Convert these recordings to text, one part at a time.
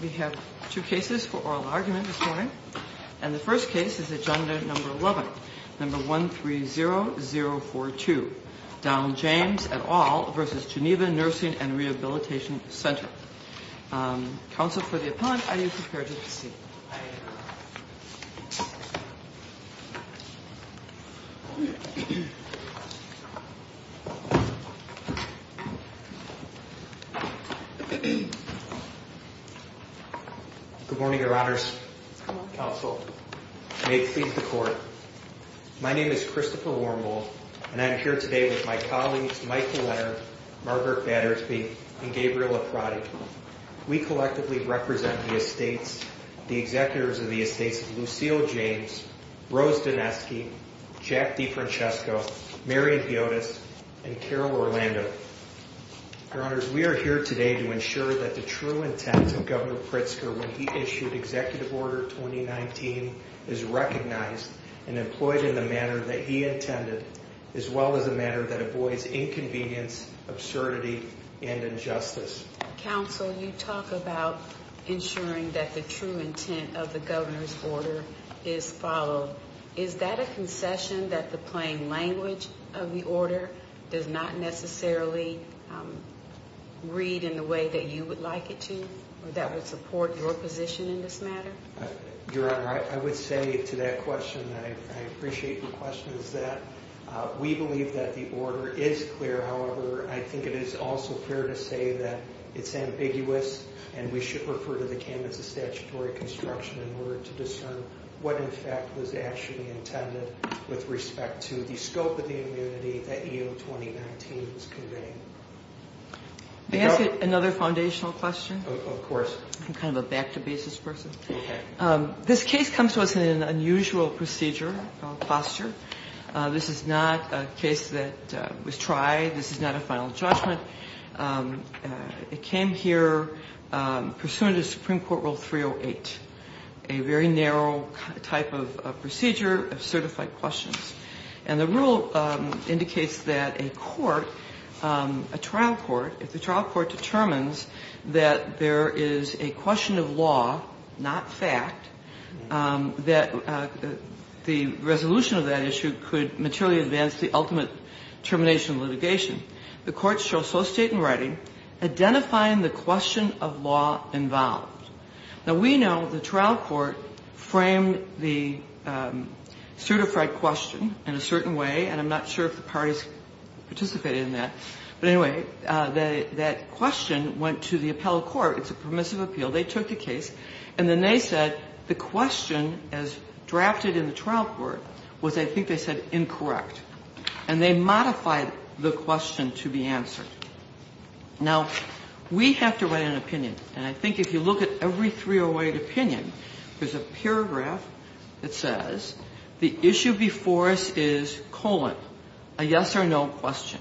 We have two cases for oral argument this morning. And the first case is Agenda No. 11, No. 130-042, Donald James et al. v. Geneva Nursing and Rehabilitation Center. Counsel for the Appellant, are you prepared to proceed? I am. Good morning, Your Honors. Good morning, Counsel. May it please the Court. My name is Christopher Wormald, and I am here today with my colleagues Michael Leonard, Margaret Battersby, and Gabriela Prodi. We collectively represent the Estates, the Executives of the Estates of Lucille James, Rose Doneski, Jack DeFrancesco, Marion Piotas, and Carol Orlando. Your Honors, we are here today to ensure that the true intent of Governor Pritzker when he issued Executive Order 2019 is recognized and employed in the manner that he intended, as well as a manner that avoids inconvenience, absurdity, and injustice. Counsel, you talk about ensuring that the true intent of the Governor's order is followed. Is that a concession that the plain language of the order does not necessarily read in the way that you would like it to, or that would support your position in this matter? Your Honor, I would say to that question, and I appreciate your question, is that we believe that the order is clear. However, I think it is also fair to say that it's ambiguous, and we should refer to the Candidates of Statutory Construction in order to discern what, in fact, was actually intended with respect to the scope of the immunity that EO 2019 is conveying. May I ask another foundational question? Of course. I'm kind of a back-to-basis person. Okay. This case comes to us in an unusual procedure, posture. This is not a case that was tried. This is not a final judgment. It came here pursuant to Supreme Court Rule 308, a very narrow type of procedure of certified questions. And the rule indicates that a court, a trial court, if the trial court determines that there is a question of law, not fact, that the resolution of that issue could materially advance the ultimate termination of litigation. The court shall so state in writing, identifying the question of law involved. Now, we know the trial court framed the certified question in a certain way, and I'm not sure if the parties participated in that. But anyway, that question went to the appellate court. It's a permissive appeal. They took the case, and then they said the question as drafted in the trial court was, I think they said, incorrect. And they modified the question to be answered. Now, we have to write an opinion. And I think if you look at every 308 opinion, there's a paragraph that says the issue before us is colon, a yes or no question.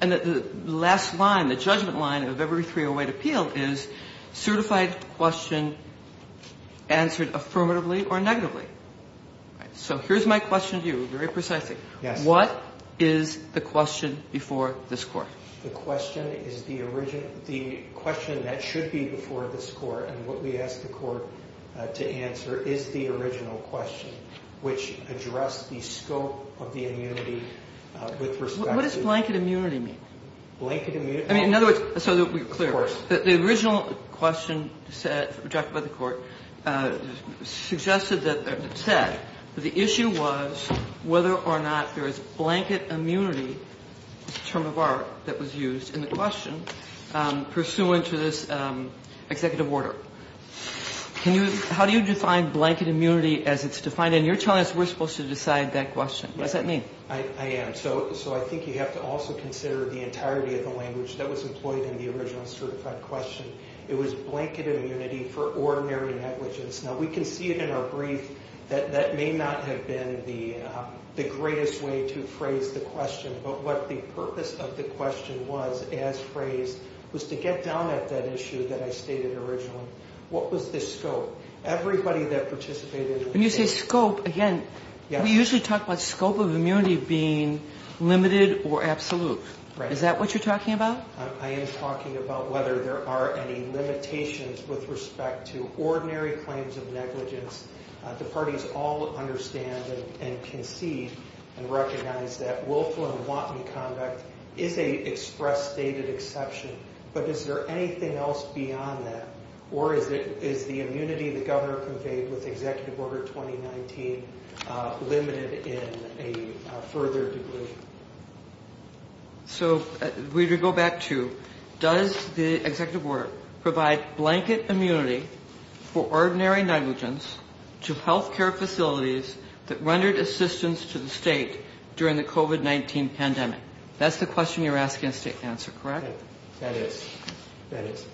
And the last line, the judgment line of every 308 appeal is certified question answered affirmatively or negatively. So here's my question to you, very precisely. What is the question before this Court? The question is the origin of the question that should be before this Court. And what we ask the Court to answer is the original question, which addressed the scope of the immunity with respect to the. What does blanket immunity mean? Blanket immunity. I mean, in other words, so that we're clear. Of course. The original question said, drafted by the Court, suggested that, said that the issue was whether or not there is blanket immunity, a term of art that was used in the question, pursuant to this executive order. Can you, how do you define blanket immunity as it's defined? And you're telling us we're supposed to decide that question. What does that mean? I am. So I think you have to also consider the entirety of the language that was employed in the original certified question. It was blanket immunity for ordinary negligence. Now, we can see it in our brief that that may not have been the greatest way to phrase the question, but what the purpose of the question was as phrased was to get down at that issue that I stated originally. What was the scope? Everybody that participated. When you say scope, again, we usually talk about scope of immunity being limited or absolute. Right. Is that what you're talking about? I am talking about whether there are any limitations with respect to ordinary claims of negligence. The parties all understand and concede and recognize that willful and wanton conduct is an express stated exception, but is there anything else beyond that? Or is the immunity the governor conveyed with executive order 2019 limited in a further degradation? So we go back to does the executive order provide blanket immunity for ordinary negligence to health care facilities that rendered assistance to the state during the COVID-19 pandemic? That's the question you're asking us to answer, correct? That is, that is.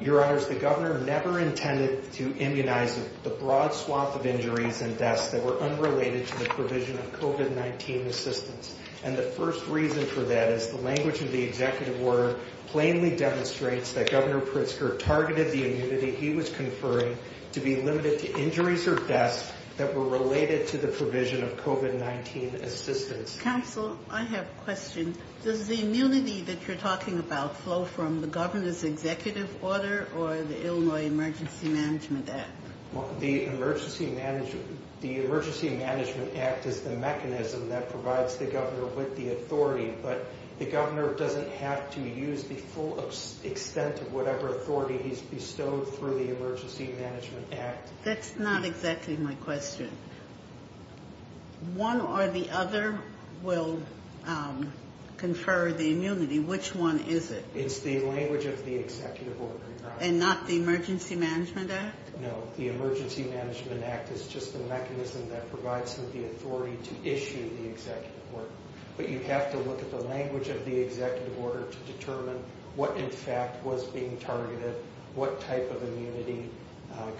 Your honors, the governor never intended to immunize the broad swath of injuries and deaths that were unrelated to the provision of COVID-19 assistance. And the first reason for that is the language of the executive order plainly demonstrates that Governor Pritzker targeted the immunity he was conferring to be limited to injuries or deaths that were related to the provision of COVID-19 assistance. Counsel, I have a question. Does the immunity that you're talking about flow from the governor's executive order or the Illinois Emergency Management Act? The Emergency Management Act is the mechanism that provides the governor with the authority, but the governor doesn't have to use the full extent of whatever authority he's bestowed through the Emergency Management Act. That's not exactly my question. One or the other will confer the immunity. Which one is it? It's the language of the executive order. And not the Emergency Management Act? No, the Emergency Management Act is just the mechanism that provides him the authority to issue the executive order. But you have to look at the language of the executive order to determine what in fact was being targeted, what type of immunity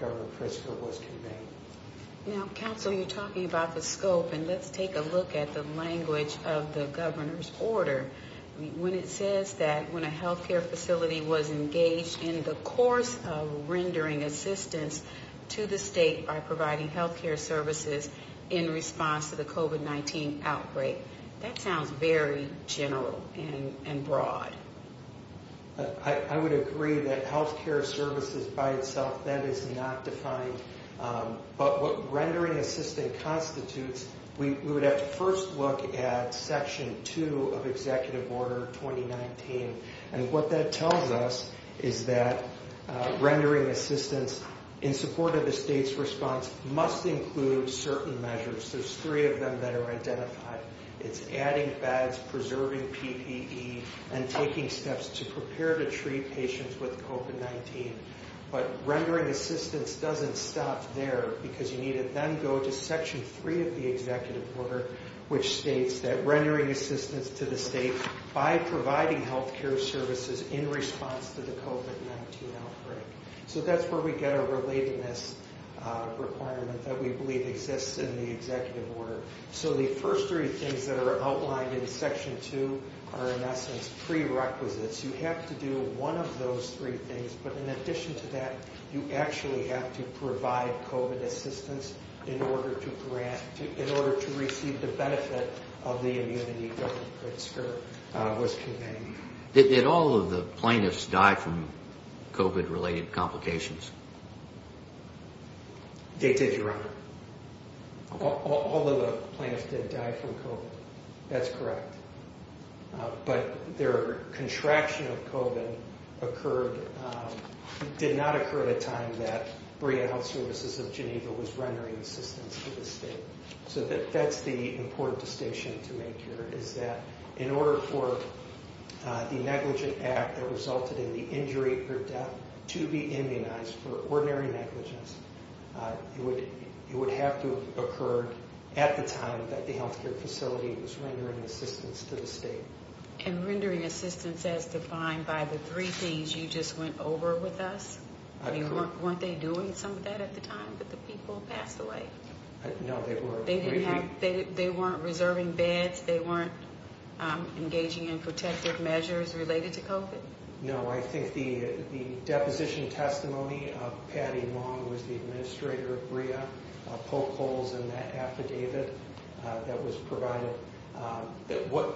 Governor Pritzker was conveying. Now, Counsel, you're talking about the scope, and let's take a look at the language of the governor's order. When it says that when a health care facility was engaged in the course of rendering assistance to the state by providing health care services in response to the COVID-19 outbreak, that sounds very general and broad. I would agree that health care services by itself, that is not defined. But what rendering assistance constitutes, we would have to first look at Section 2 of Executive Order 2019. And what that tells us is that rendering assistance in support of the state's response must include certain measures. There's three of them that are identified. It's adding bags, preserving PPE, and taking steps to prepare to treat patients with COVID-19. But rendering assistance doesn't stop there, because you need to then go to Section 3 of the executive order, which states that rendering assistance to the state by providing health care services in response to the COVID-19 outbreak. So that's where we get our relatedness requirement that we believe exists in the executive order. So the first three things that are outlined in Section 2 are, in essence, prerequisites. You have to do one of those three things, but in addition to that, you actually have to provide COVID assistance in order to receive the benefit of the immunity Governor Pritzker was conveying. Did all of the plaintiffs die from COVID-related complications? They did, Your Honor. All of the plaintiffs did die from COVID. That's correct. But their contraction of COVID did not occur at a time that Berea Health Services of Geneva was rendering assistance to the state. So that's the important distinction to make here, is that in order for the negligent act that resulted in the injury or death to be immunized for ordinary negligence, it would have to have occurred at the time that the health care facility was rendering assistance to the state. And rendering assistance as defined by the three things you just went over with us, weren't they doing some of that at the time that the people passed away? No, they weren't. They weren't reserving beds? They weren't engaging in protective measures related to COVID? No, I think the deposition testimony of Patty Long, who was the administrator of Berea, poked holes in that affidavit that was provided.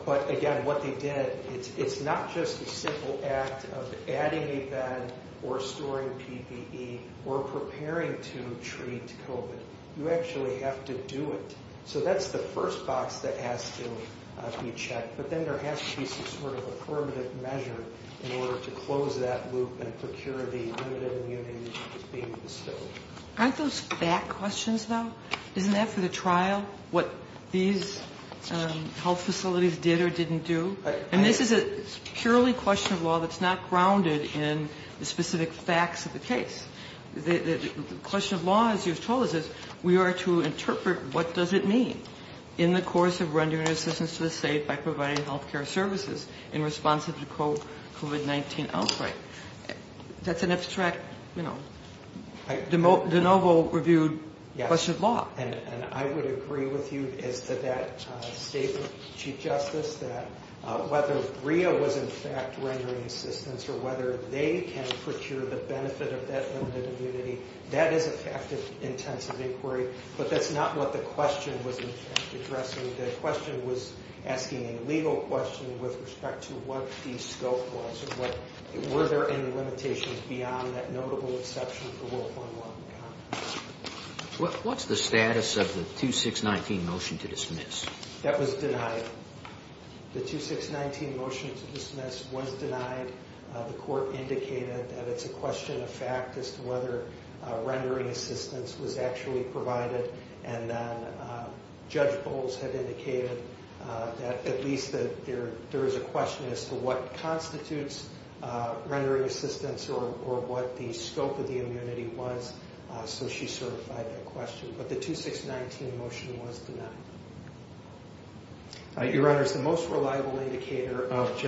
But again, what they did, it's not just a simple act of adding a bed or storing PPE or preparing to treat COVID. You actually have to do it. So that's the first box that has to be checked. But then there has to be some sort of affirmative measure in order to close that loop and procure the limited immunity that's being bestowed. Aren't those fact questions, though? Isn't that for the trial, what these health facilities did or didn't do? And this is a purely question of law that's not grounded in the specific facts of the case. The question of law, as you've told us, is we are to interpret what does it mean in the course of rendering assistance to the state by providing health care services in response to the COVID-19 outbreak. That's an abstract, you know, de novo reviewed question of law. And I would agree with you as to that statement, Chief Justice, that whether Berea was in fact rendering assistance or whether they can procure the benefit of that limited immunity, that is a fact of intensive inquiry. But that's not what the question was addressing. The question was asking a legal question with respect to what the scope was and were there any limitations beyond that notable exception for World War I and World War II. What's the status of the 2619 motion to dismiss? That was denied. The 2619 motion to dismiss was denied. The court indicated that it's a question of fact as to whether rendering assistance was actually provided. And then Judge Bowles had indicated that at least that there is a question as to what constitutes rendering assistance or what the scope of the immunity was. So she certified that question. But the 2619 motion was denied. Your Honor, the most reliable indicator of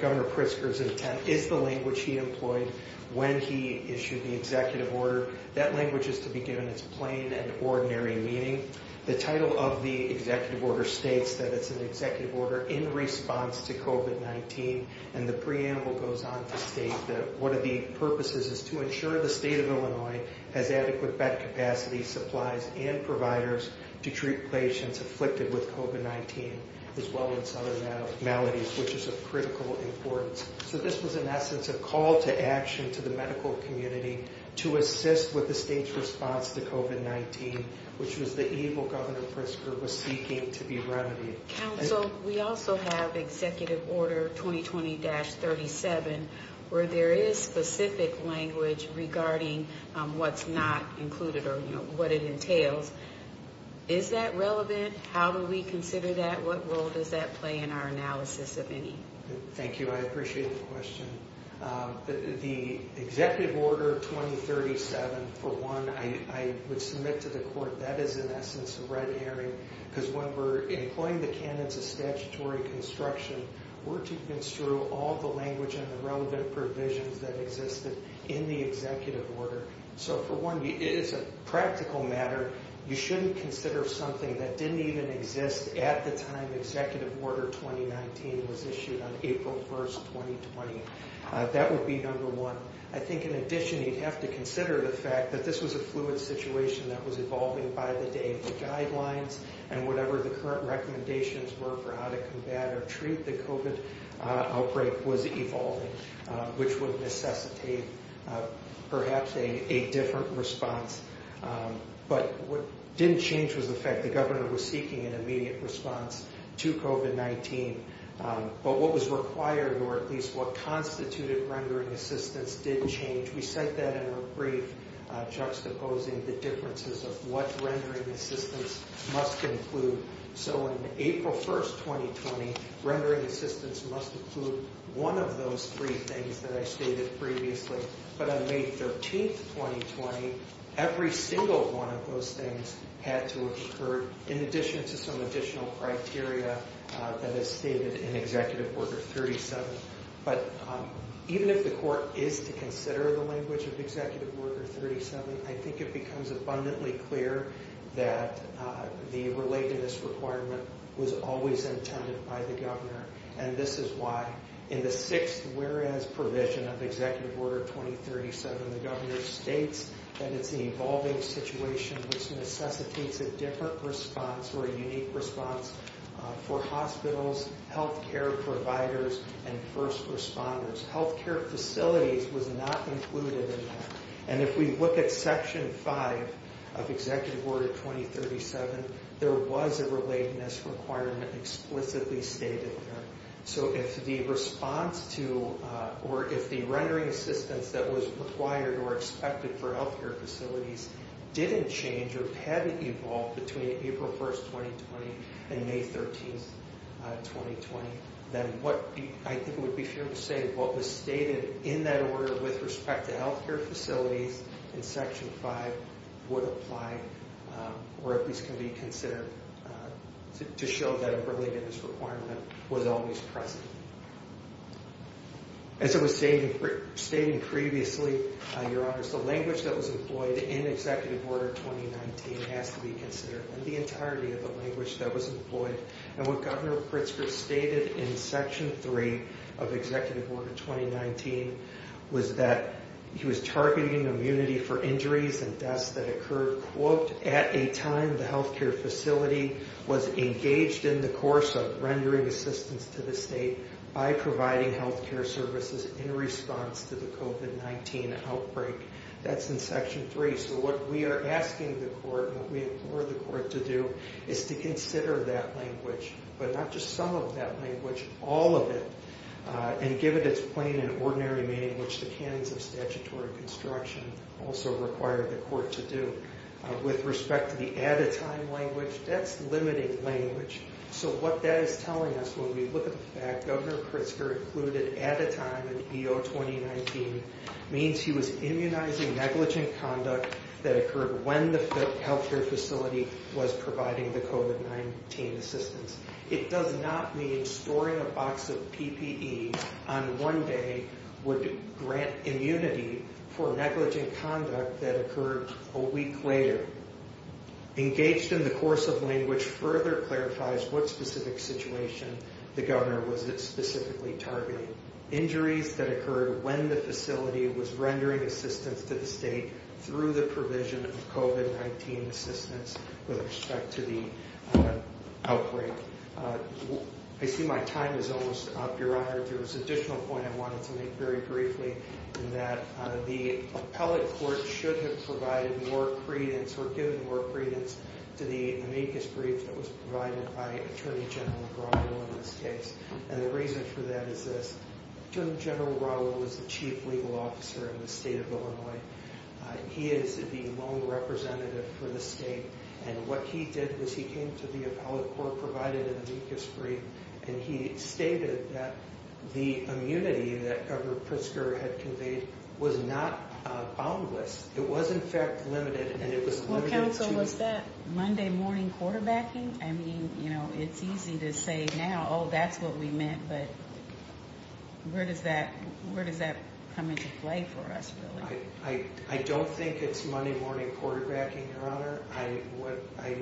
Governor Pritzker's intent is the language he employed when he issued the executive order. That language is to be given its plain and ordinary meaning. The title of the executive order states that it's an executive order in response to COVID-19. And the preamble goes on to state that one of the purposes is to ensure the state of Illinois has adequate bed capacity, supplies, and providers to treat patients afflicted with COVID-19, as well as other maladies, which is of critical importance. So this was, in essence, a call to action to the medical community to assist with the state's response to COVID-19, which was the evil Governor Pritzker was seeking to be remedied. Counsel, we also have Executive Order 2020-37, where there is specific language regarding what's not included or what it entails. Is that relevant? How do we consider that? What role does that play in our analysis of any? Thank you. I appreciate the question. The Executive Order 20-37, for one, I would submit to the court that is, in essence, a red herring. Because when we're employing the canons of statutory construction, we're to construe all the language and the relevant provisions that existed in the executive order. So, for one, it is a practical matter. You shouldn't consider something that didn't even exist at the time Executive Order 2019 was issued on April 1st, 2020. That would be number one. I think, in addition, you'd have to consider the fact that this was a fluid situation that was evolving by the day. The guidelines and whatever the current recommendations were for how to combat or treat the COVID outbreak was evolving, which would necessitate perhaps a different response. But what didn't change was the fact the Governor was seeking an immediate response to COVID-19. But what was required, or at least what constituted rendering assistance, did change. We said that in a brief, juxtaposing the differences of what rendering assistance must include. So, on April 1st, 2020, rendering assistance must include one of those three things that I stated previously. But on May 13th, 2020, every single one of those things had to have occurred in addition to some additional criteria that is stated in Executive Order 37. But even if the Court is to consider the language of Executive Order 37, I think it becomes abundantly clear that the relatedness requirement was always intended by the Governor. And this is why, in the sixth whereas provision of Executive Order 2037, the Governor states that it's the evolving situation which necessitates a different response or a unique response for hospitals, health care providers, and first responders. Health care facilities was not included in that. And if we look at Section 5 of Executive Order 2037, there was a relatedness requirement explicitly stated there. So if the response to, or if the rendering assistance that was required or expected for health care facilities didn't change or hadn't evolved between April 1st, 2020 and May 13th, 2020, then what, I think it would be fair to say, what was stated in that order with respect to health care facilities in Section 5 would apply or at least can be considered to show that a relatedness requirement was always present. As I was stating previously, Your Honors, the language that was employed in Executive Order 2019 has to be considered in the entirety of the language that was employed. And what Governor Pritzker stated in Section 3 of Executive Order 2019 was that he was targeting immunity for injuries and deaths that occurred, quote, at a time the health care facility was engaged in the course of rendering assistance to the state by providing health care services in response to the COVID-19 outbreak. That's in Section 3. So what we are asking the Court and what we implore the Court to do is to consider that language, but not just some of that language, all of it, and give it its plain and ordinary meaning, which the canons of statutory construction also require the Court to do. With respect to the at-a-time language, that's limiting language. So what that is telling us when we look at the fact that Governor Pritzker included at-a-time in EO 2019 means he was immunizing negligent conduct that occurred when the health care facility was providing the COVID-19 assistance. It does not mean storing a box of PPE on one day would grant immunity for negligent conduct that occurred a week later. Engaged in the course of language further clarifies what specific situation the Governor was specifically targeting. Injuries that occurred when the facility was rendering assistance to the state through the provision of COVID-19 assistance with respect to the outbreak. I see my time is almost up, Your Honor. There was an additional point I wanted to make very briefly in that the appellate court should have provided more credence or given more credence to the amicus brief that was provided by Attorney General Grosvell in this case. And the reason for that is this. General Grosvell was the chief legal officer in the state of Illinois. He is the lone representative for the state. And what he did was he came to the appellate court, provided an amicus brief, and he stated that the immunity that Governor Pritzker had conveyed was not boundless. It was, in fact, limited. Well, counsel, was that Monday morning quarterbacking? I mean, you know, it's easy to say now, oh, that's what we meant, but where does that come into play for us, really? I don't think it's Monday morning quarterbacking, Your Honor. What I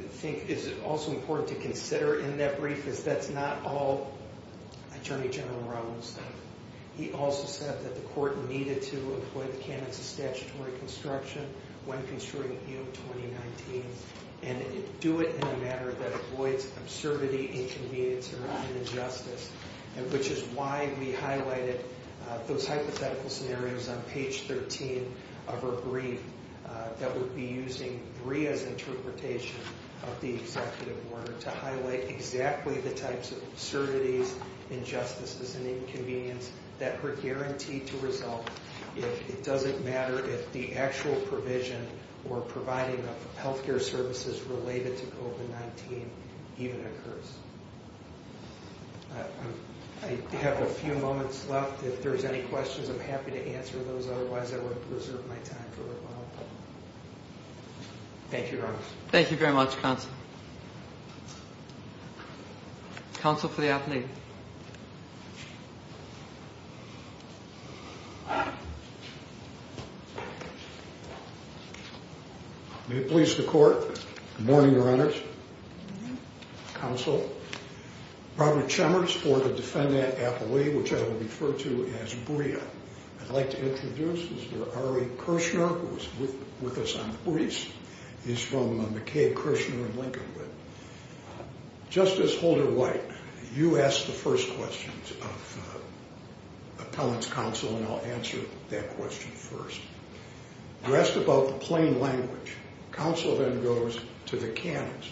think is also important to consider in that brief is that's not all Attorney General Rose said. He also said that the court needed to employ the candidates of statutory construction when construing EO 2019 and do it in a manner that avoids absurdity, inconvenience, or injustice, which is why we highlighted those hypothetical scenarios on page 13. Of her brief that would be using Ria's interpretation of the executive order to highlight exactly the types of absurdities, injustices, and inconvenience that are guaranteed to result if it doesn't matter if the actual provision or providing of health care services related to COVID-19 even occurs. I have a few moments left. If there's any questions, I'm happy to answer those. Otherwise, I would reserve my time for rebuttal. Thank you, Your Honor. Thank you very much, counsel. Counsel for the affidavit. May it please the court. Good morning, Your Honors. Counsel, Robert Chalmers for the defendant appellee, which I will refer to as Ria. I'd like to introduce Mr. Ari Kirshner, who is with us on the briefs. He's from McCabe, Kirshner & Lincoln. Justice Holder-White, you asked the first questions of appellant's counsel, and I'll answer that question first. You asked about the plain language. Counsel then goes to the canons,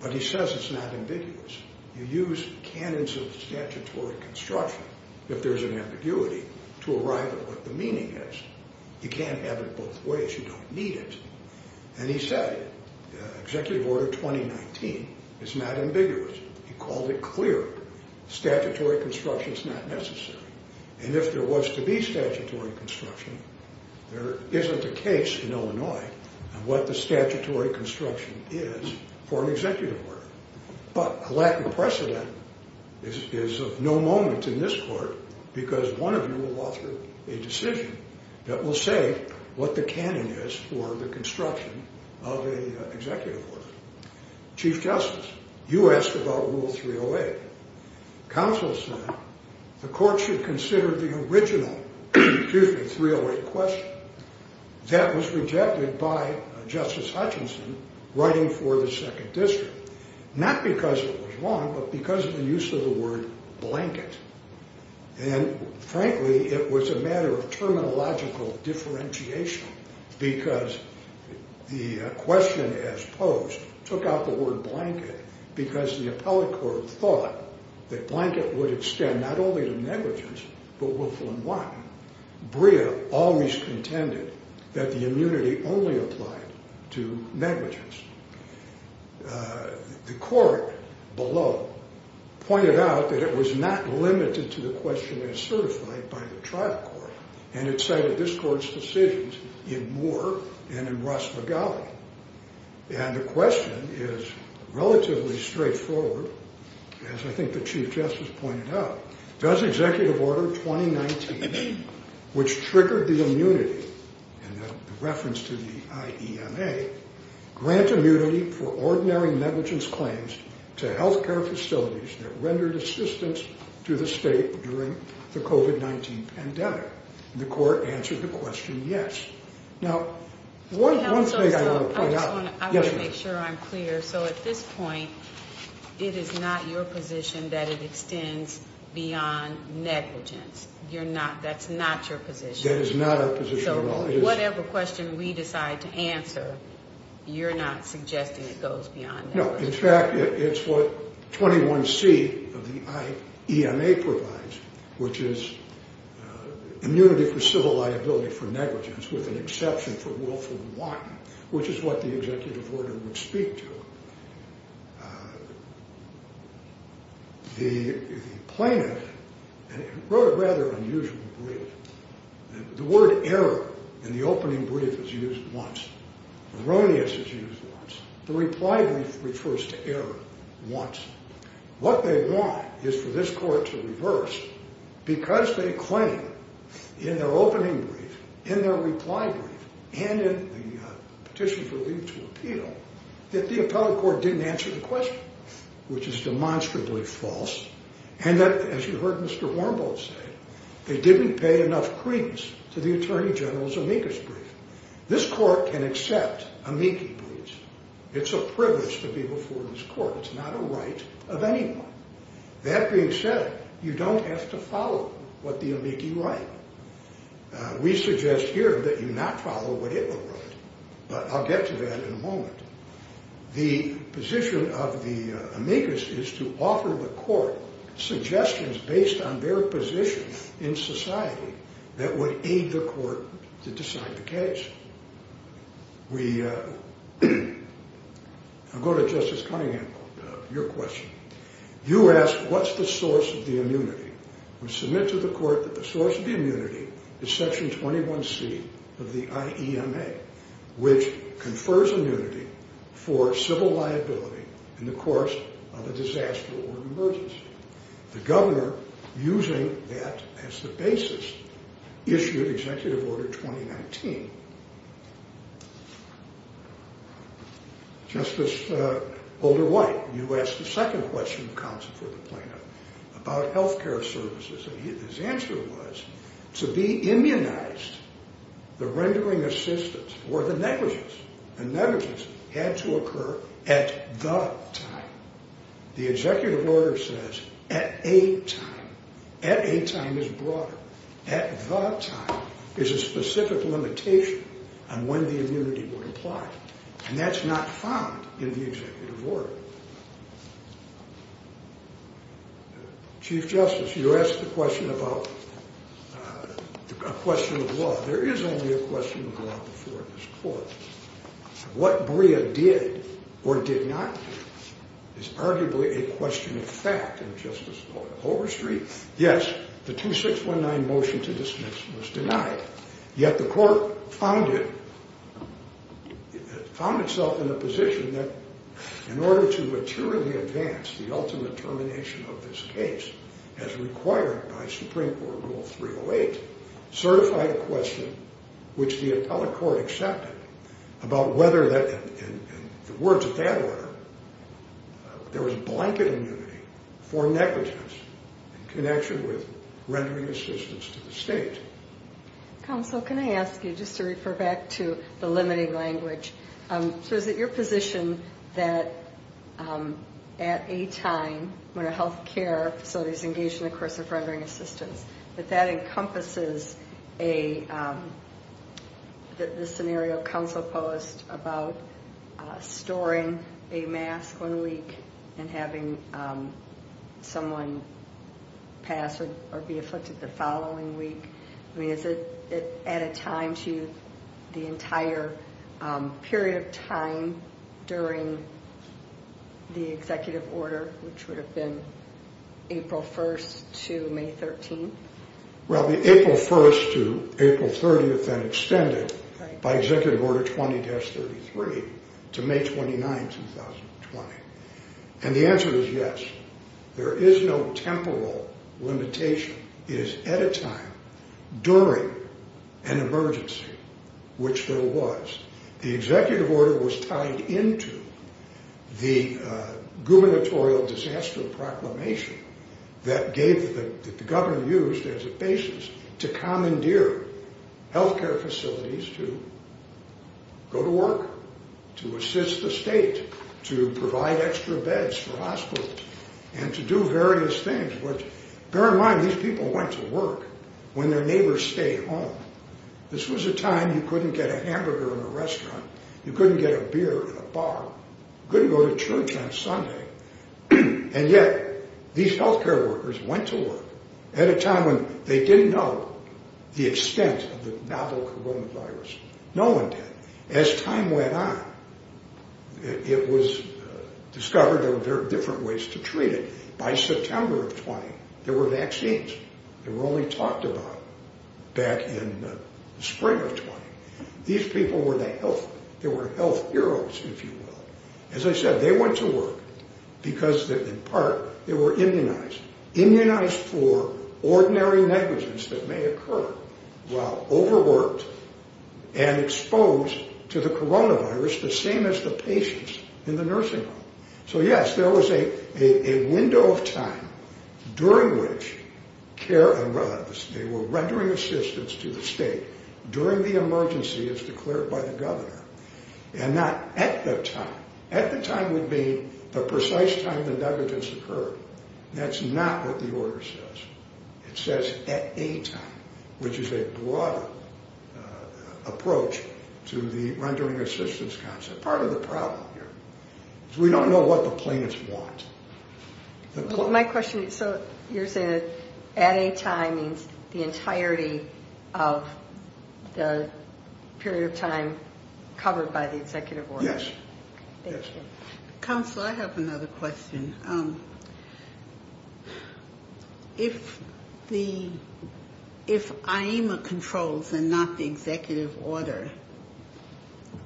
but he says it's not ambiguous. You use canons of statutory construction if there's an ambiguity to arrive at what the meaning is. You can't have it both ways. You don't need it. And he said Executive Order 2019 is not ambiguous. He called it clear. Statutory construction is not necessary. And if there was to be statutory construction, there isn't a case in Illinois on what the statutory construction is for an executive order. But a lack of precedent is of no moment in this court because one of you will offer a decision that will say what the canon is for the construction of an executive order. Chief Justice, you asked about Rule 308. Counsel said the court should consider the original Rule 308 question. That was rejected by Justice Hutchinson writing for the Second District, not because it was wrong, but because of the use of the word blanket. And frankly, it was a matter of terminological differentiation because the question as posed took out the word blanket because the appellate court thought that blanket would extend not only to negligence but willful and wanton. Brea always contended that the immunity only applied to negligence. The court below pointed out that it was not limited to the question as certified by the tribal court. And it cited this court's decisions in Moore and in Ross Magali. And the question is relatively straightforward, as I think the Chief Justice pointed out. Does executive order 2019, which triggered the immunity and the reference to the I.E.M.A. grant immunity for ordinary negligence claims to health care facilities that rendered assistance to the state during the COVID-19 pandemic? The court answered the question, yes. Now, one thing I want to point out. Yes, ma'am. I want to make sure I'm clear. So at this point, it is not your position that it extends beyond negligence. You're not, that's not your position. That is not our position at all. So whatever question we decide to answer, you're not suggesting it goes beyond negligence. No, in fact, it's what 21C of the I.E.M.A. provides, which is immunity for civil liability for negligence with an exception for willful and wanton, which is what the executive order would speak to. The plaintiff wrote a rather unusual brief. The word error in the opening brief is used once. Erroneous is used once. The reply brief refers to error once. What they want is for this court to reverse because they claim in their opening brief, in their reply brief, and in the petition for leave to appeal that the appellate court didn't answer the question, which is demonstrably false. And that, as you heard Mr. Wormald say, they didn't pay enough credence to the attorney general's amicus brief. This court can accept amici briefs. It's a privilege to be before this court. It's not a right of anyone. That being said, you don't have to follow what the amici write. We suggest here that you not follow what it will write, but I'll get to that in a moment. The position of the amicus is to offer the court suggestions based on their position in society that would aid the court to decide the case. I'll go to Justice Cunningham, your question. You asked what's the source of the immunity. We submit to the court that the source of the immunity is section 21C of the IEMA, which confers immunity for civil liability in the course of a disaster or emergency. The governor, using that as the basis, issued Executive Order 2019. Justice Holder-White, you asked the second question of counsel for the plaintiff about health care services, and his answer was to be immunized, the rendering assistance or the negligence, and negligence had to occur at the time. The Executive Order says at a time. At a time is broader. At the time is a specific limitation on when the immunity would apply, and that's not found in the Executive Order. Chief Justice, you asked the question about a question of law. There is only a question of law before this court. What Brea did or did not do is arguably a question of fact, and Justice Holder-Street, yes, the 2619 motion to dismiss was denied. Yet the court found itself in a position that in order to maturely advance the ultimate termination of this case, as required by Supreme Court Rule 308, certified a question which the appellate court accepted about whether that, in the words of that order, there was blanket immunity for negligence in connection with rendering assistance to the state. Counsel, can I ask you just to refer back to the limiting language? So is it your position that at a time when a health care facility is engaged in the course of rendering assistance, that that encompasses a, the scenario counsel posed about storing a mask one week and having someone pass or be afflicted the following week? I mean, is it at a time to the entire period of time during the Executive Order, which would have been April 1st to May 13th? Well, the April 1st to April 30th then extended by Executive Order 20-33 to May 29, 2020. And the answer is yes. There is no temporal limitation. It is at a time during an emergency, which there was. The Executive Order was tied into the gubernatorial disaster proclamation that gave, that the governor used as a basis to commandeer health care facilities to go to work, to assist the state, to provide extra beds for hospitals, and to do various things. Bear in mind, these people went to work when their neighbors stayed home. This was a time you couldn't get a hamburger in a restaurant. You couldn't get a beer in a bar. You couldn't go to church on Sunday. And yet, these health care workers went to work at a time when they didn't know the extent of the novel coronavirus. No one did. As time went on, it was discovered there were different ways to treat it. By September of 20, there were vaccines that were only talked about back in the spring of 20. These people were the health, they were health heroes, if you will. As I said, they went to work because, in part, they were immunized. Immunized for ordinary negligence that may occur while overworked and exposed to the coronavirus, the same as the patients in the nursing home. So, yes, there was a window of time during which care arose. They were rendering assistance to the state during the emergency, as declared by the governor, and not at the time. At the time would be the precise time the negligence occurred. That's not what the order says. It says at a time, which is a broader approach to the rendering assistance concept. That's part of the problem here. We don't know what the plaintiffs want. My question is, so you're saying that at a time means the entirety of the period of time covered by the executive order? Yes. Counsel, I have another question. If the, if IEMA controls and not the executive order,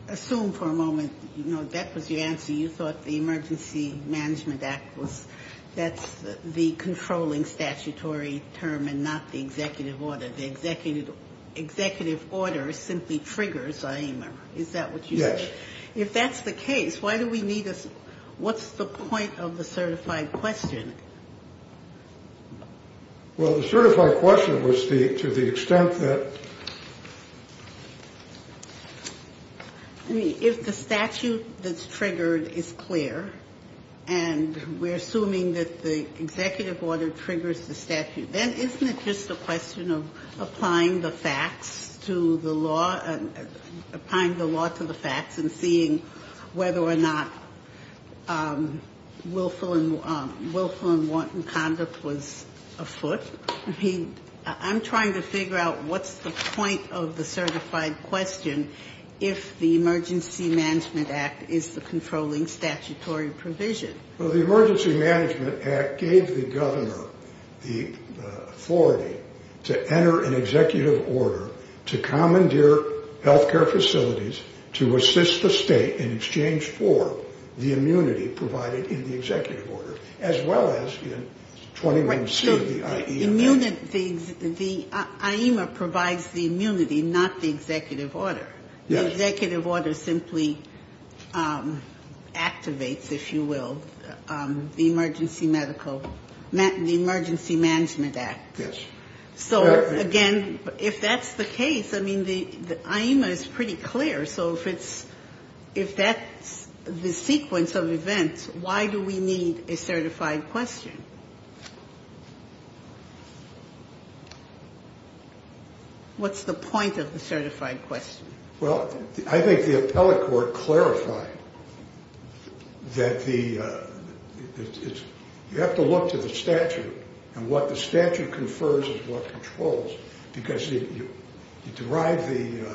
assume for a moment, you know, that was your answer. You thought the Emergency Management Act was, that's the controlling statutory term and not the executive order. The executive order simply triggers IEMA. Is that what you said? If that's the case, why do we need a, what's the point of the certified question? Well, the certified question was to the extent that... I mean, if the statute that's triggered is clear, and we're assuming that the executive order triggers the statute, then isn't it just a question of applying the facts to the law, applying the law to the facts and seeing whether or not willful and wanton conduct was afoot? I mean, I'm trying to figure out what's the point of the certified question if the Emergency Management Act is the controlling statutory provision. Well, the Emergency Management Act gave the governor the authority to enter an executive order to commandeer health care facilities to assist the state in exchange for the immunity provided in the executive order, as well as in 21C of the IEMA. The IEMA provides the immunity, not the executive order. The executive order simply activates, if you will, the Emergency Medical, the Emergency Management Act. Yes. So, again, if that's the case, I mean, the IEMA is pretty clear. So if it's, if that's the sequence of events, why do we need a certified question? What's the point of the certified question? Well, I think the appellate court clarified that the, you have to look to the statute, and what the statute confers is what controls, because you derive the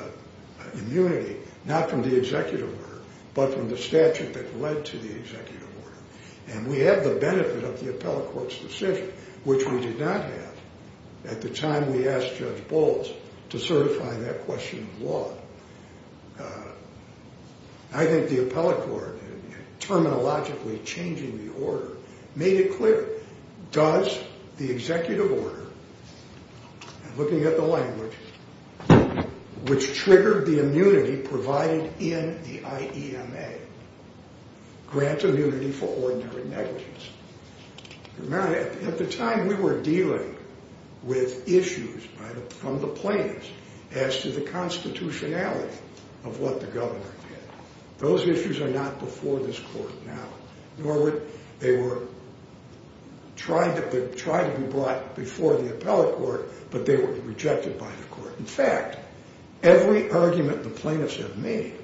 immunity not from the executive order, but from the statute that led to the executive order. And we have the benefit of the appellate court's decision, which we did not have at the time we asked Judge Bowles to certify that question of law. I think the appellate court, terminologically changing the order, made it clear, does the executive order, looking at the language, which triggered the immunity provided in the IEMA, grant immunity for ordinary negligence? At the time, we were dealing with issues from the plaintiffs as to the constitutionality of what the governor did. Those issues are not before this court now, nor would they were tried to be brought before the appellate court, but they were rejected by the court. In fact, every argument the plaintiffs have made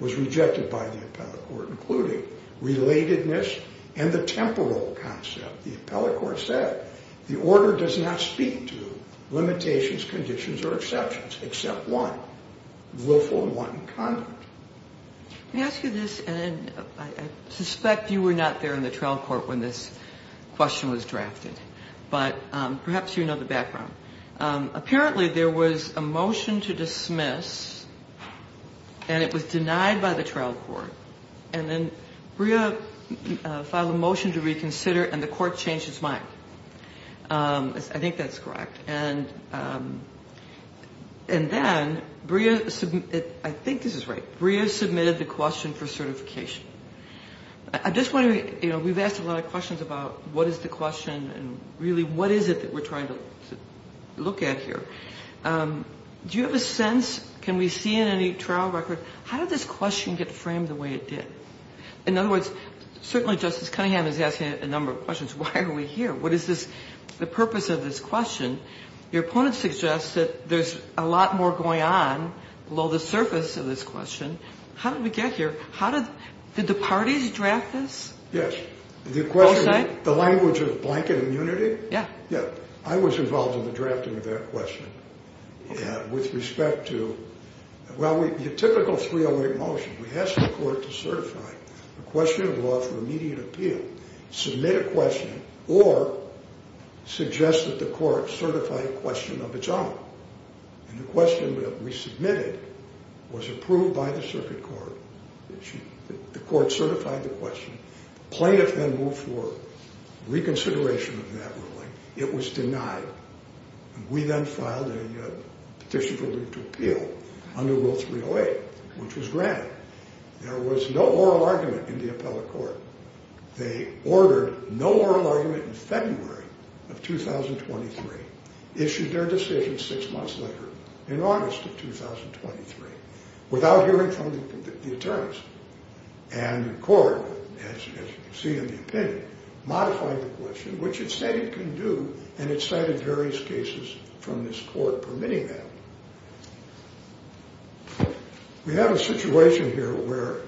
was rejected by the appellate court, including relatedness and the temporal concept. The appellate court said the order does not speak to limitations, conditions, or exceptions, except one, willful and wanton conduct. Let me ask you this, and I suspect you were not there in the trial court when this question was drafted, but perhaps you know the background. Apparently, there was a motion to dismiss, and it was denied by the trial court, and then Brea filed a motion to reconsider, and the court changed its mind. I think that's correct. And then Brea, I think this is right, Brea submitted the question for certification. I'm just wondering, you know, we've asked a lot of questions about what is the question and really what is it that we're trying to look at here. Do you have a sense, can we see in any trial record, how did this question get framed the way it did? In other words, certainly Justice Cunningham is asking a number of questions. Why are we here? What is this, the purpose of this question? Your opponent suggests that there's a lot more going on below the surface of this question. How did we get here? Did the parties draft this? Yes. The question, the language of blanket immunity? Yeah. Yeah. I was involved in the drafting of that question. Okay. With respect to, well, your typical 308 motion, we ask the court to certify a question of law for immediate appeal, submit a question, or suggest that the court certify a question of its own. And the question that we submitted was approved by the circuit court. The court certified the question. Plaintiff then moved forward, reconsideration of that ruling. It was denied. We then filed a petition for amendment to appeal under Rule 308, which was granted. There was no oral argument in the appellate court. They ordered no oral argument in February of 2023, issued their decision six months later in August of 2023, without hearing from the attorneys. And the court, as you can see in the opinion, modified the question, which it said it couldn't do, and it cited various cases from this court permitting that. We have a situation here where,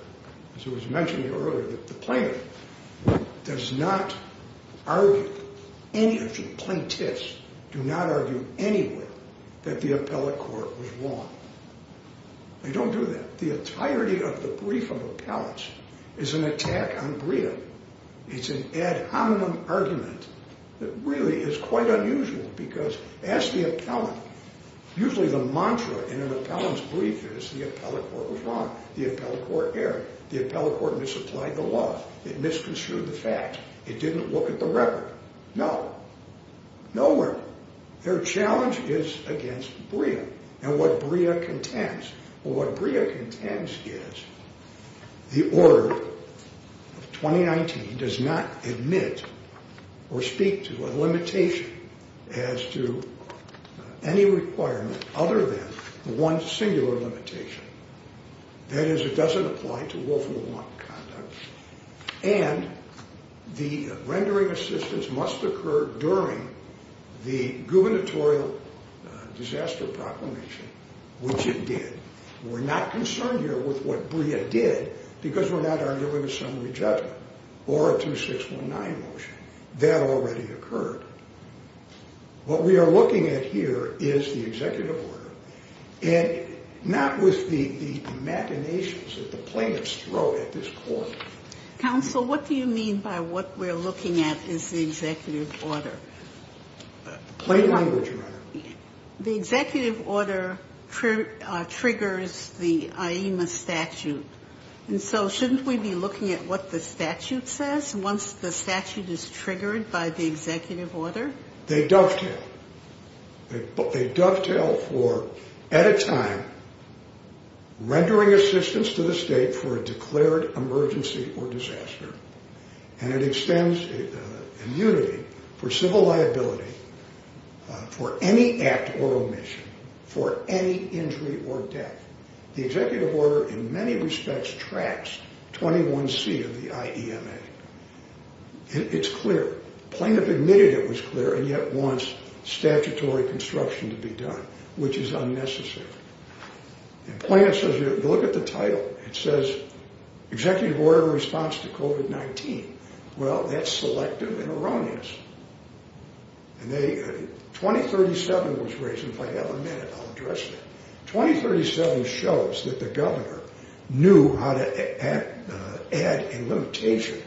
as it was mentioned earlier, the plaintiff does not argue, any of the plaintiffs do not argue anywhere that the appellate court was wrong. They don't do that. The entirety of the brief of appellants is an attack on brevity. It's an ad hominem argument that really is quite unusual because, as the appellant, usually the mantra in an appellant's brief is the appellate court was wrong. The appellate court erred. The appellate court misapplied the law. It misconstrued the fact. It didn't look at the record. No. Nowhere. Their challenge is against BREA and what BREA contends. What BREA contends is the order of 2019 does not admit or speak to a limitation as to any requirement other than one singular limitation. That is, it doesn't apply to Wolf and Wonk conduct, and the rendering assistance must occur during the gubernatorial disaster proclamation, which it did. We're not concerned here with what BREA did because we're not arguing a summary judgment or a 2619 motion. That already occurred. What we are looking at here is the executive order, and not with the machinations that the plaintiffs throw at this court. Counsel, what do you mean by what we're looking at is the executive order? Plain language, Your Honor. The executive order triggers the IEMA statute. And so shouldn't we be looking at what the statute says once the statute is triggered by the executive order? They dovetail. They dovetail for, at a time, rendering assistance to the state for a declared emergency or disaster. And it extends immunity for civil liability for any act or omission for any injury or death. The executive order, in many respects, tracks 21C of the IEMA. It's clear. The plaintiff admitted it was clear and yet wants statutory construction to be done, which is unnecessary. And the plaintiff says, look at the title. It says, executive order in response to COVID-19. Well, that's selective and erroneous. And 2037 was raised, and if I have a minute, I'll address that. 2037 shows that the governor knew how to add a limitation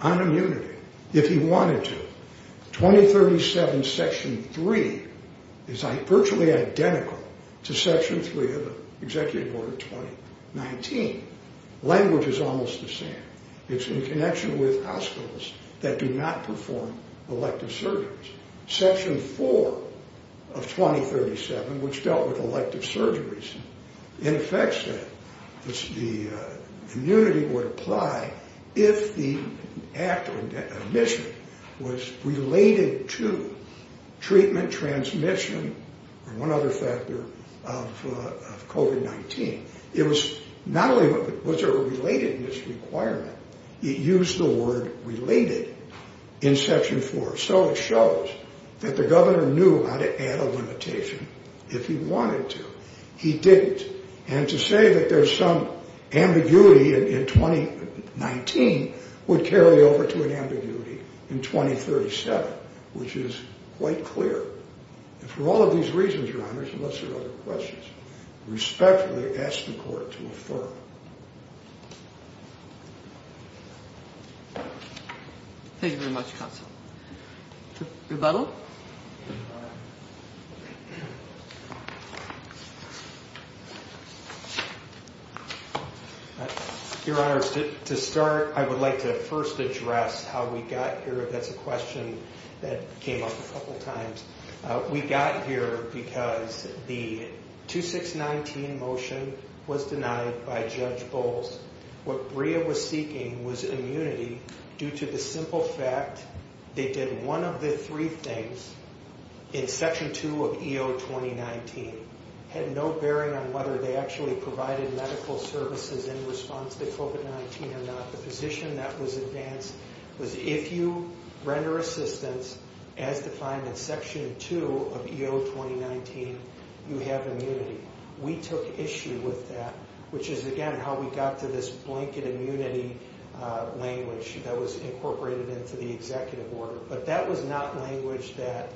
on immunity if he wanted to. 2037 section 3 is virtually identical to section 3 of the executive order 2019. Language is almost the same. It's in connection with hospitals that do not perform elective surgeries. Section 4 of 2037, which dealt with elective surgeries, in effect said the immunity would apply if the act or omission was related to treatment, transmission, or one other factor of COVID-19. It was not only was there a relatedness requirement, it used the word related in section 4. So it shows that the governor knew how to add a limitation if he wanted to. He didn't. And to say that there's some ambiguity in 2019 would carry over to an ambiguity in 2037, which is quite clear. And for all of these reasons, Your Honors, unless there are other questions, I respectfully ask the court to affirm. Thank you very much, Counsel. Rebuttal? Your Honors, to start, I would like to first address how we got here. That's a question that came up a couple times. We got here because the 2619 motion was denied by Judge Bowles. What BREA was seeking was immunity due to the simple fact they did one of the three things in section 2 of EO 2019. Had no bearing on whether they actually provided medical services in response to COVID-19 or not. The position that was advanced was if you render assistance as defined in section 2 of EO 2019, you have immunity. We took issue with that, which is, again, how we got to this blanket immunity language that was incorporated into the executive order. But that was not language that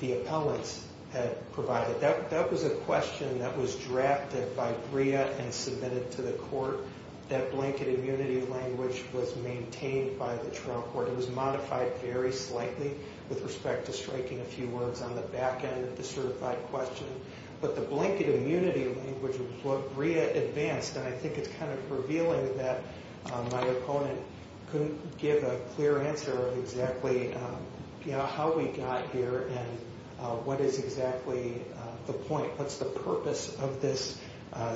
the appellants had provided. That was a question that was drafted by BREA and submitted to the court. That blanket immunity language was maintained by the trial court. It was modified very slightly with respect to striking a few words on the back end of the certified question. But the blanket immunity language of what BREA advanced, and I think it's kind of revealing that my opponent couldn't give a clear answer of exactly how we got here and what is exactly the point. What's the purpose of this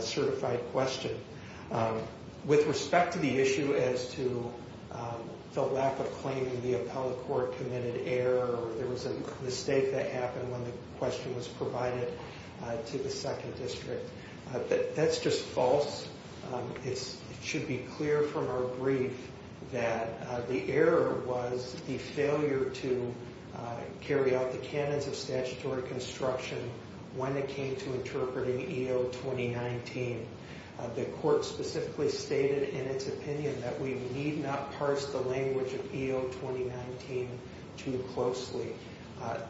certified question? With respect to the issue as to the lack of claiming the appellate court committed error, there was a mistake that happened when the question was provided to the second district. That's just false. It should be clear from our brief that the error was the failure to carry out the canons of statutory construction when it came to interpreting EO 2019. The court specifically stated in its opinion that we need not parse the language of EO 2019 too closely.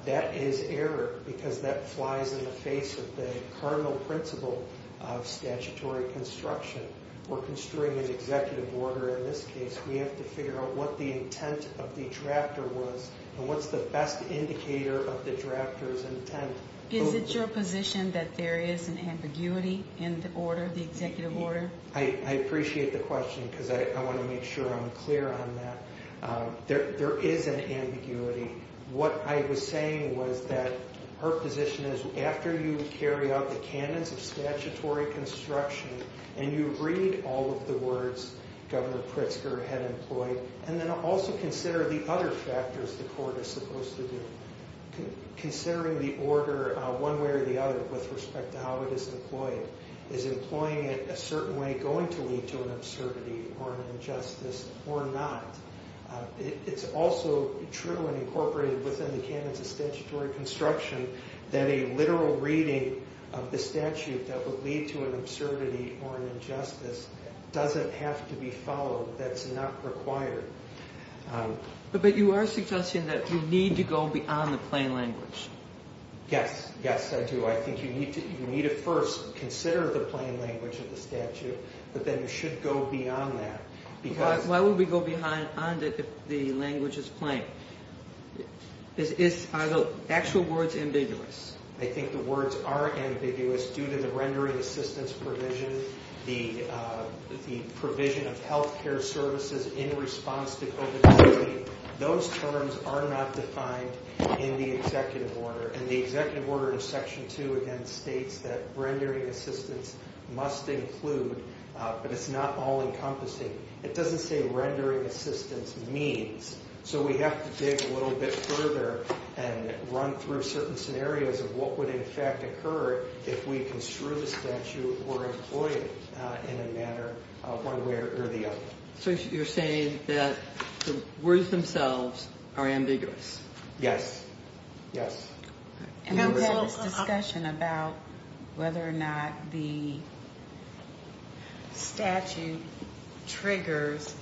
That is error because that flies in the face of the cardinal principle of statutory construction. We're construing an executive order in this case. We have to figure out what the intent of the drafter was and what's the best indicator of the drafter's intent. Is it your position that there is an ambiguity in the order, the executive order? I appreciate the question because I want to make sure I'm clear on that. There is an ambiguity. What I was saying was that her position is after you carry out the canons of statutory construction and you read all of the words Governor Pritzker had employed, and then also consider the other factors the court is supposed to do. Considering the order one way or the other with respect to how it is deployed. Is employing it a certain way going to lead to an absurdity or an injustice or not? It's also true and incorporated within the canons of statutory construction that a literal reading of the statute that would lead to an absurdity or an injustice doesn't have to be followed. That's not required. But you are suggesting that we need to go beyond the plain language. Yes, yes I do. I think you need to first consider the plain language of the statute, but then you should go beyond that. Why would we go beyond it if the language is plain? Are the actual words ambiguous? I think the words are ambiguous due to the rendering assistance provision, the provision of health care services in response to COVID-19. Those terms are not defined in the executive order. And the executive order in section two again states that rendering assistance must include, but it's not all encompassing. It doesn't say rendering assistance means. So we have to dig a little bit further and run through certain scenarios of what would in fact occur if we construe the statute or employ it in a manner one way or the other. So you're saying that the words themselves are ambiguous? Yes, yes. And we had this discussion about whether or not the statute triggers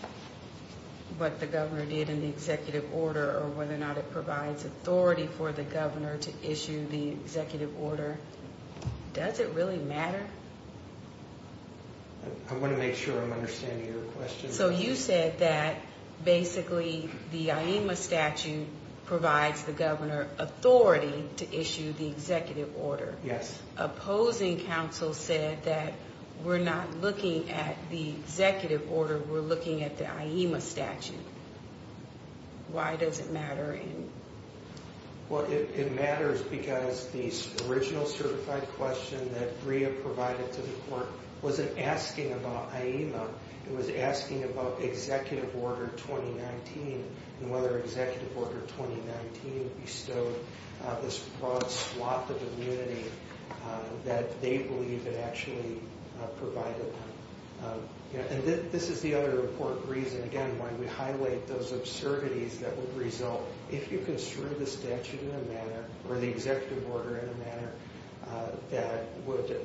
what the governor did in the executive order or whether or not it provides authority for the governor to issue the executive order. Does it really matter? I want to make sure I'm understanding your question. So you said that basically the IEMA statute provides the governor authority to issue the executive order. Yes. Opposing counsel said that we're not looking at the executive order, we're looking at the IEMA statute. Why does it matter? Well, it matters because the original certified question that Bria provided to the court wasn't asking about IEMA. It was asking about executive order 2019 and whether executive order 2019 bestowed this broad swath of immunity that they believe it actually provided them. And this is the other important reason, again, why we highlight those absurdities that would result if you construe the statute in a manner or the executive order in a manner that would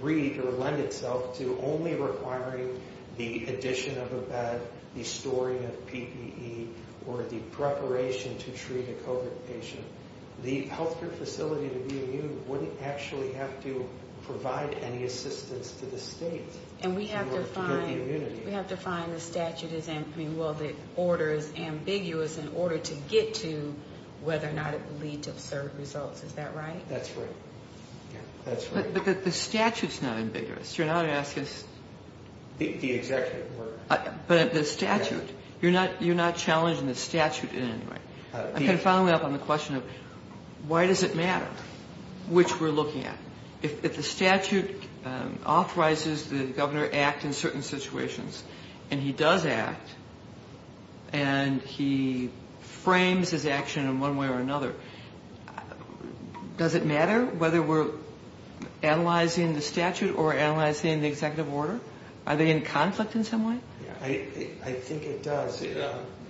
read or lend itself to only requiring the addition of a bed, the storing of PPE, or the preparation to treat a COVID patient. The healthcare facility to be immune wouldn't actually have to provide any assistance to the state. And we have to find the statute is, I mean, well, the order is ambiguous in order to get to whether or not it would lead to absurd results. Is that right? That's right. Yeah, that's right. But the statute's not ambiguous. You're not asking us. The executive order. But the statute. You're not challenging the statute in any way. I'm kind of following up on the question of why does it matter which we're looking at. If the statute authorizes the governor to act in certain situations and he does act and he frames his action in one way or another, does it matter whether we're analyzing the statute or analyzing the executive order? Are they in conflict in some way? I think it does.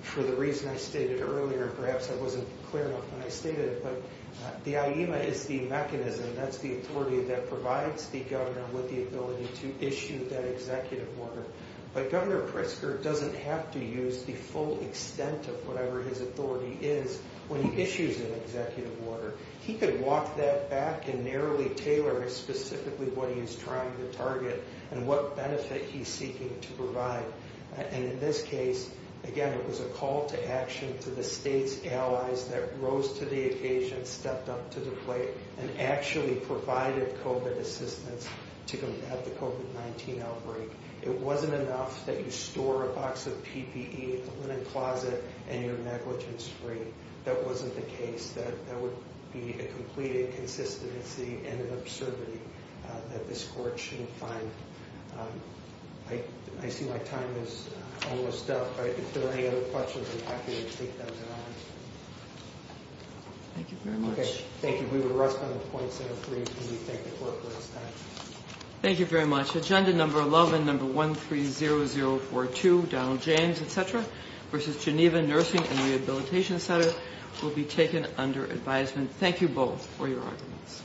For the reason I stated earlier, perhaps I wasn't clear enough when I stated it, but the IEMA is the mechanism. That's the authority that provides the governor with the ability to issue that executive order. But Governor Pritzker doesn't have to use the full extent of whatever his authority is when he issues an executive order. He could walk that back and narrowly tailor specifically what he is trying to target and what benefit he's seeking to provide. And in this case, again, it was a call to action to the state's allies that rose to the occasion, stepped up to the plate, and actually provided COVID assistance to combat the COVID-19 outbreak. It wasn't enough that you store a box of PPE in the linen closet and you're negligence-free. That wasn't the case. That would be a complete inconsistency and an absurdity that this court shouldn't find. I see my time is almost up. If there are any other questions, I'm happy to take those at all. Thank you very much. Okay, thank you. We will rest on the point set of three, and we thank the clerk for his time. Thank you very much. Agenda number 11, number 130042, Donald James, etc., versus Geneva Nursing and Rehabilitation Center, will be taken under advisement. Thank you both for your arguments.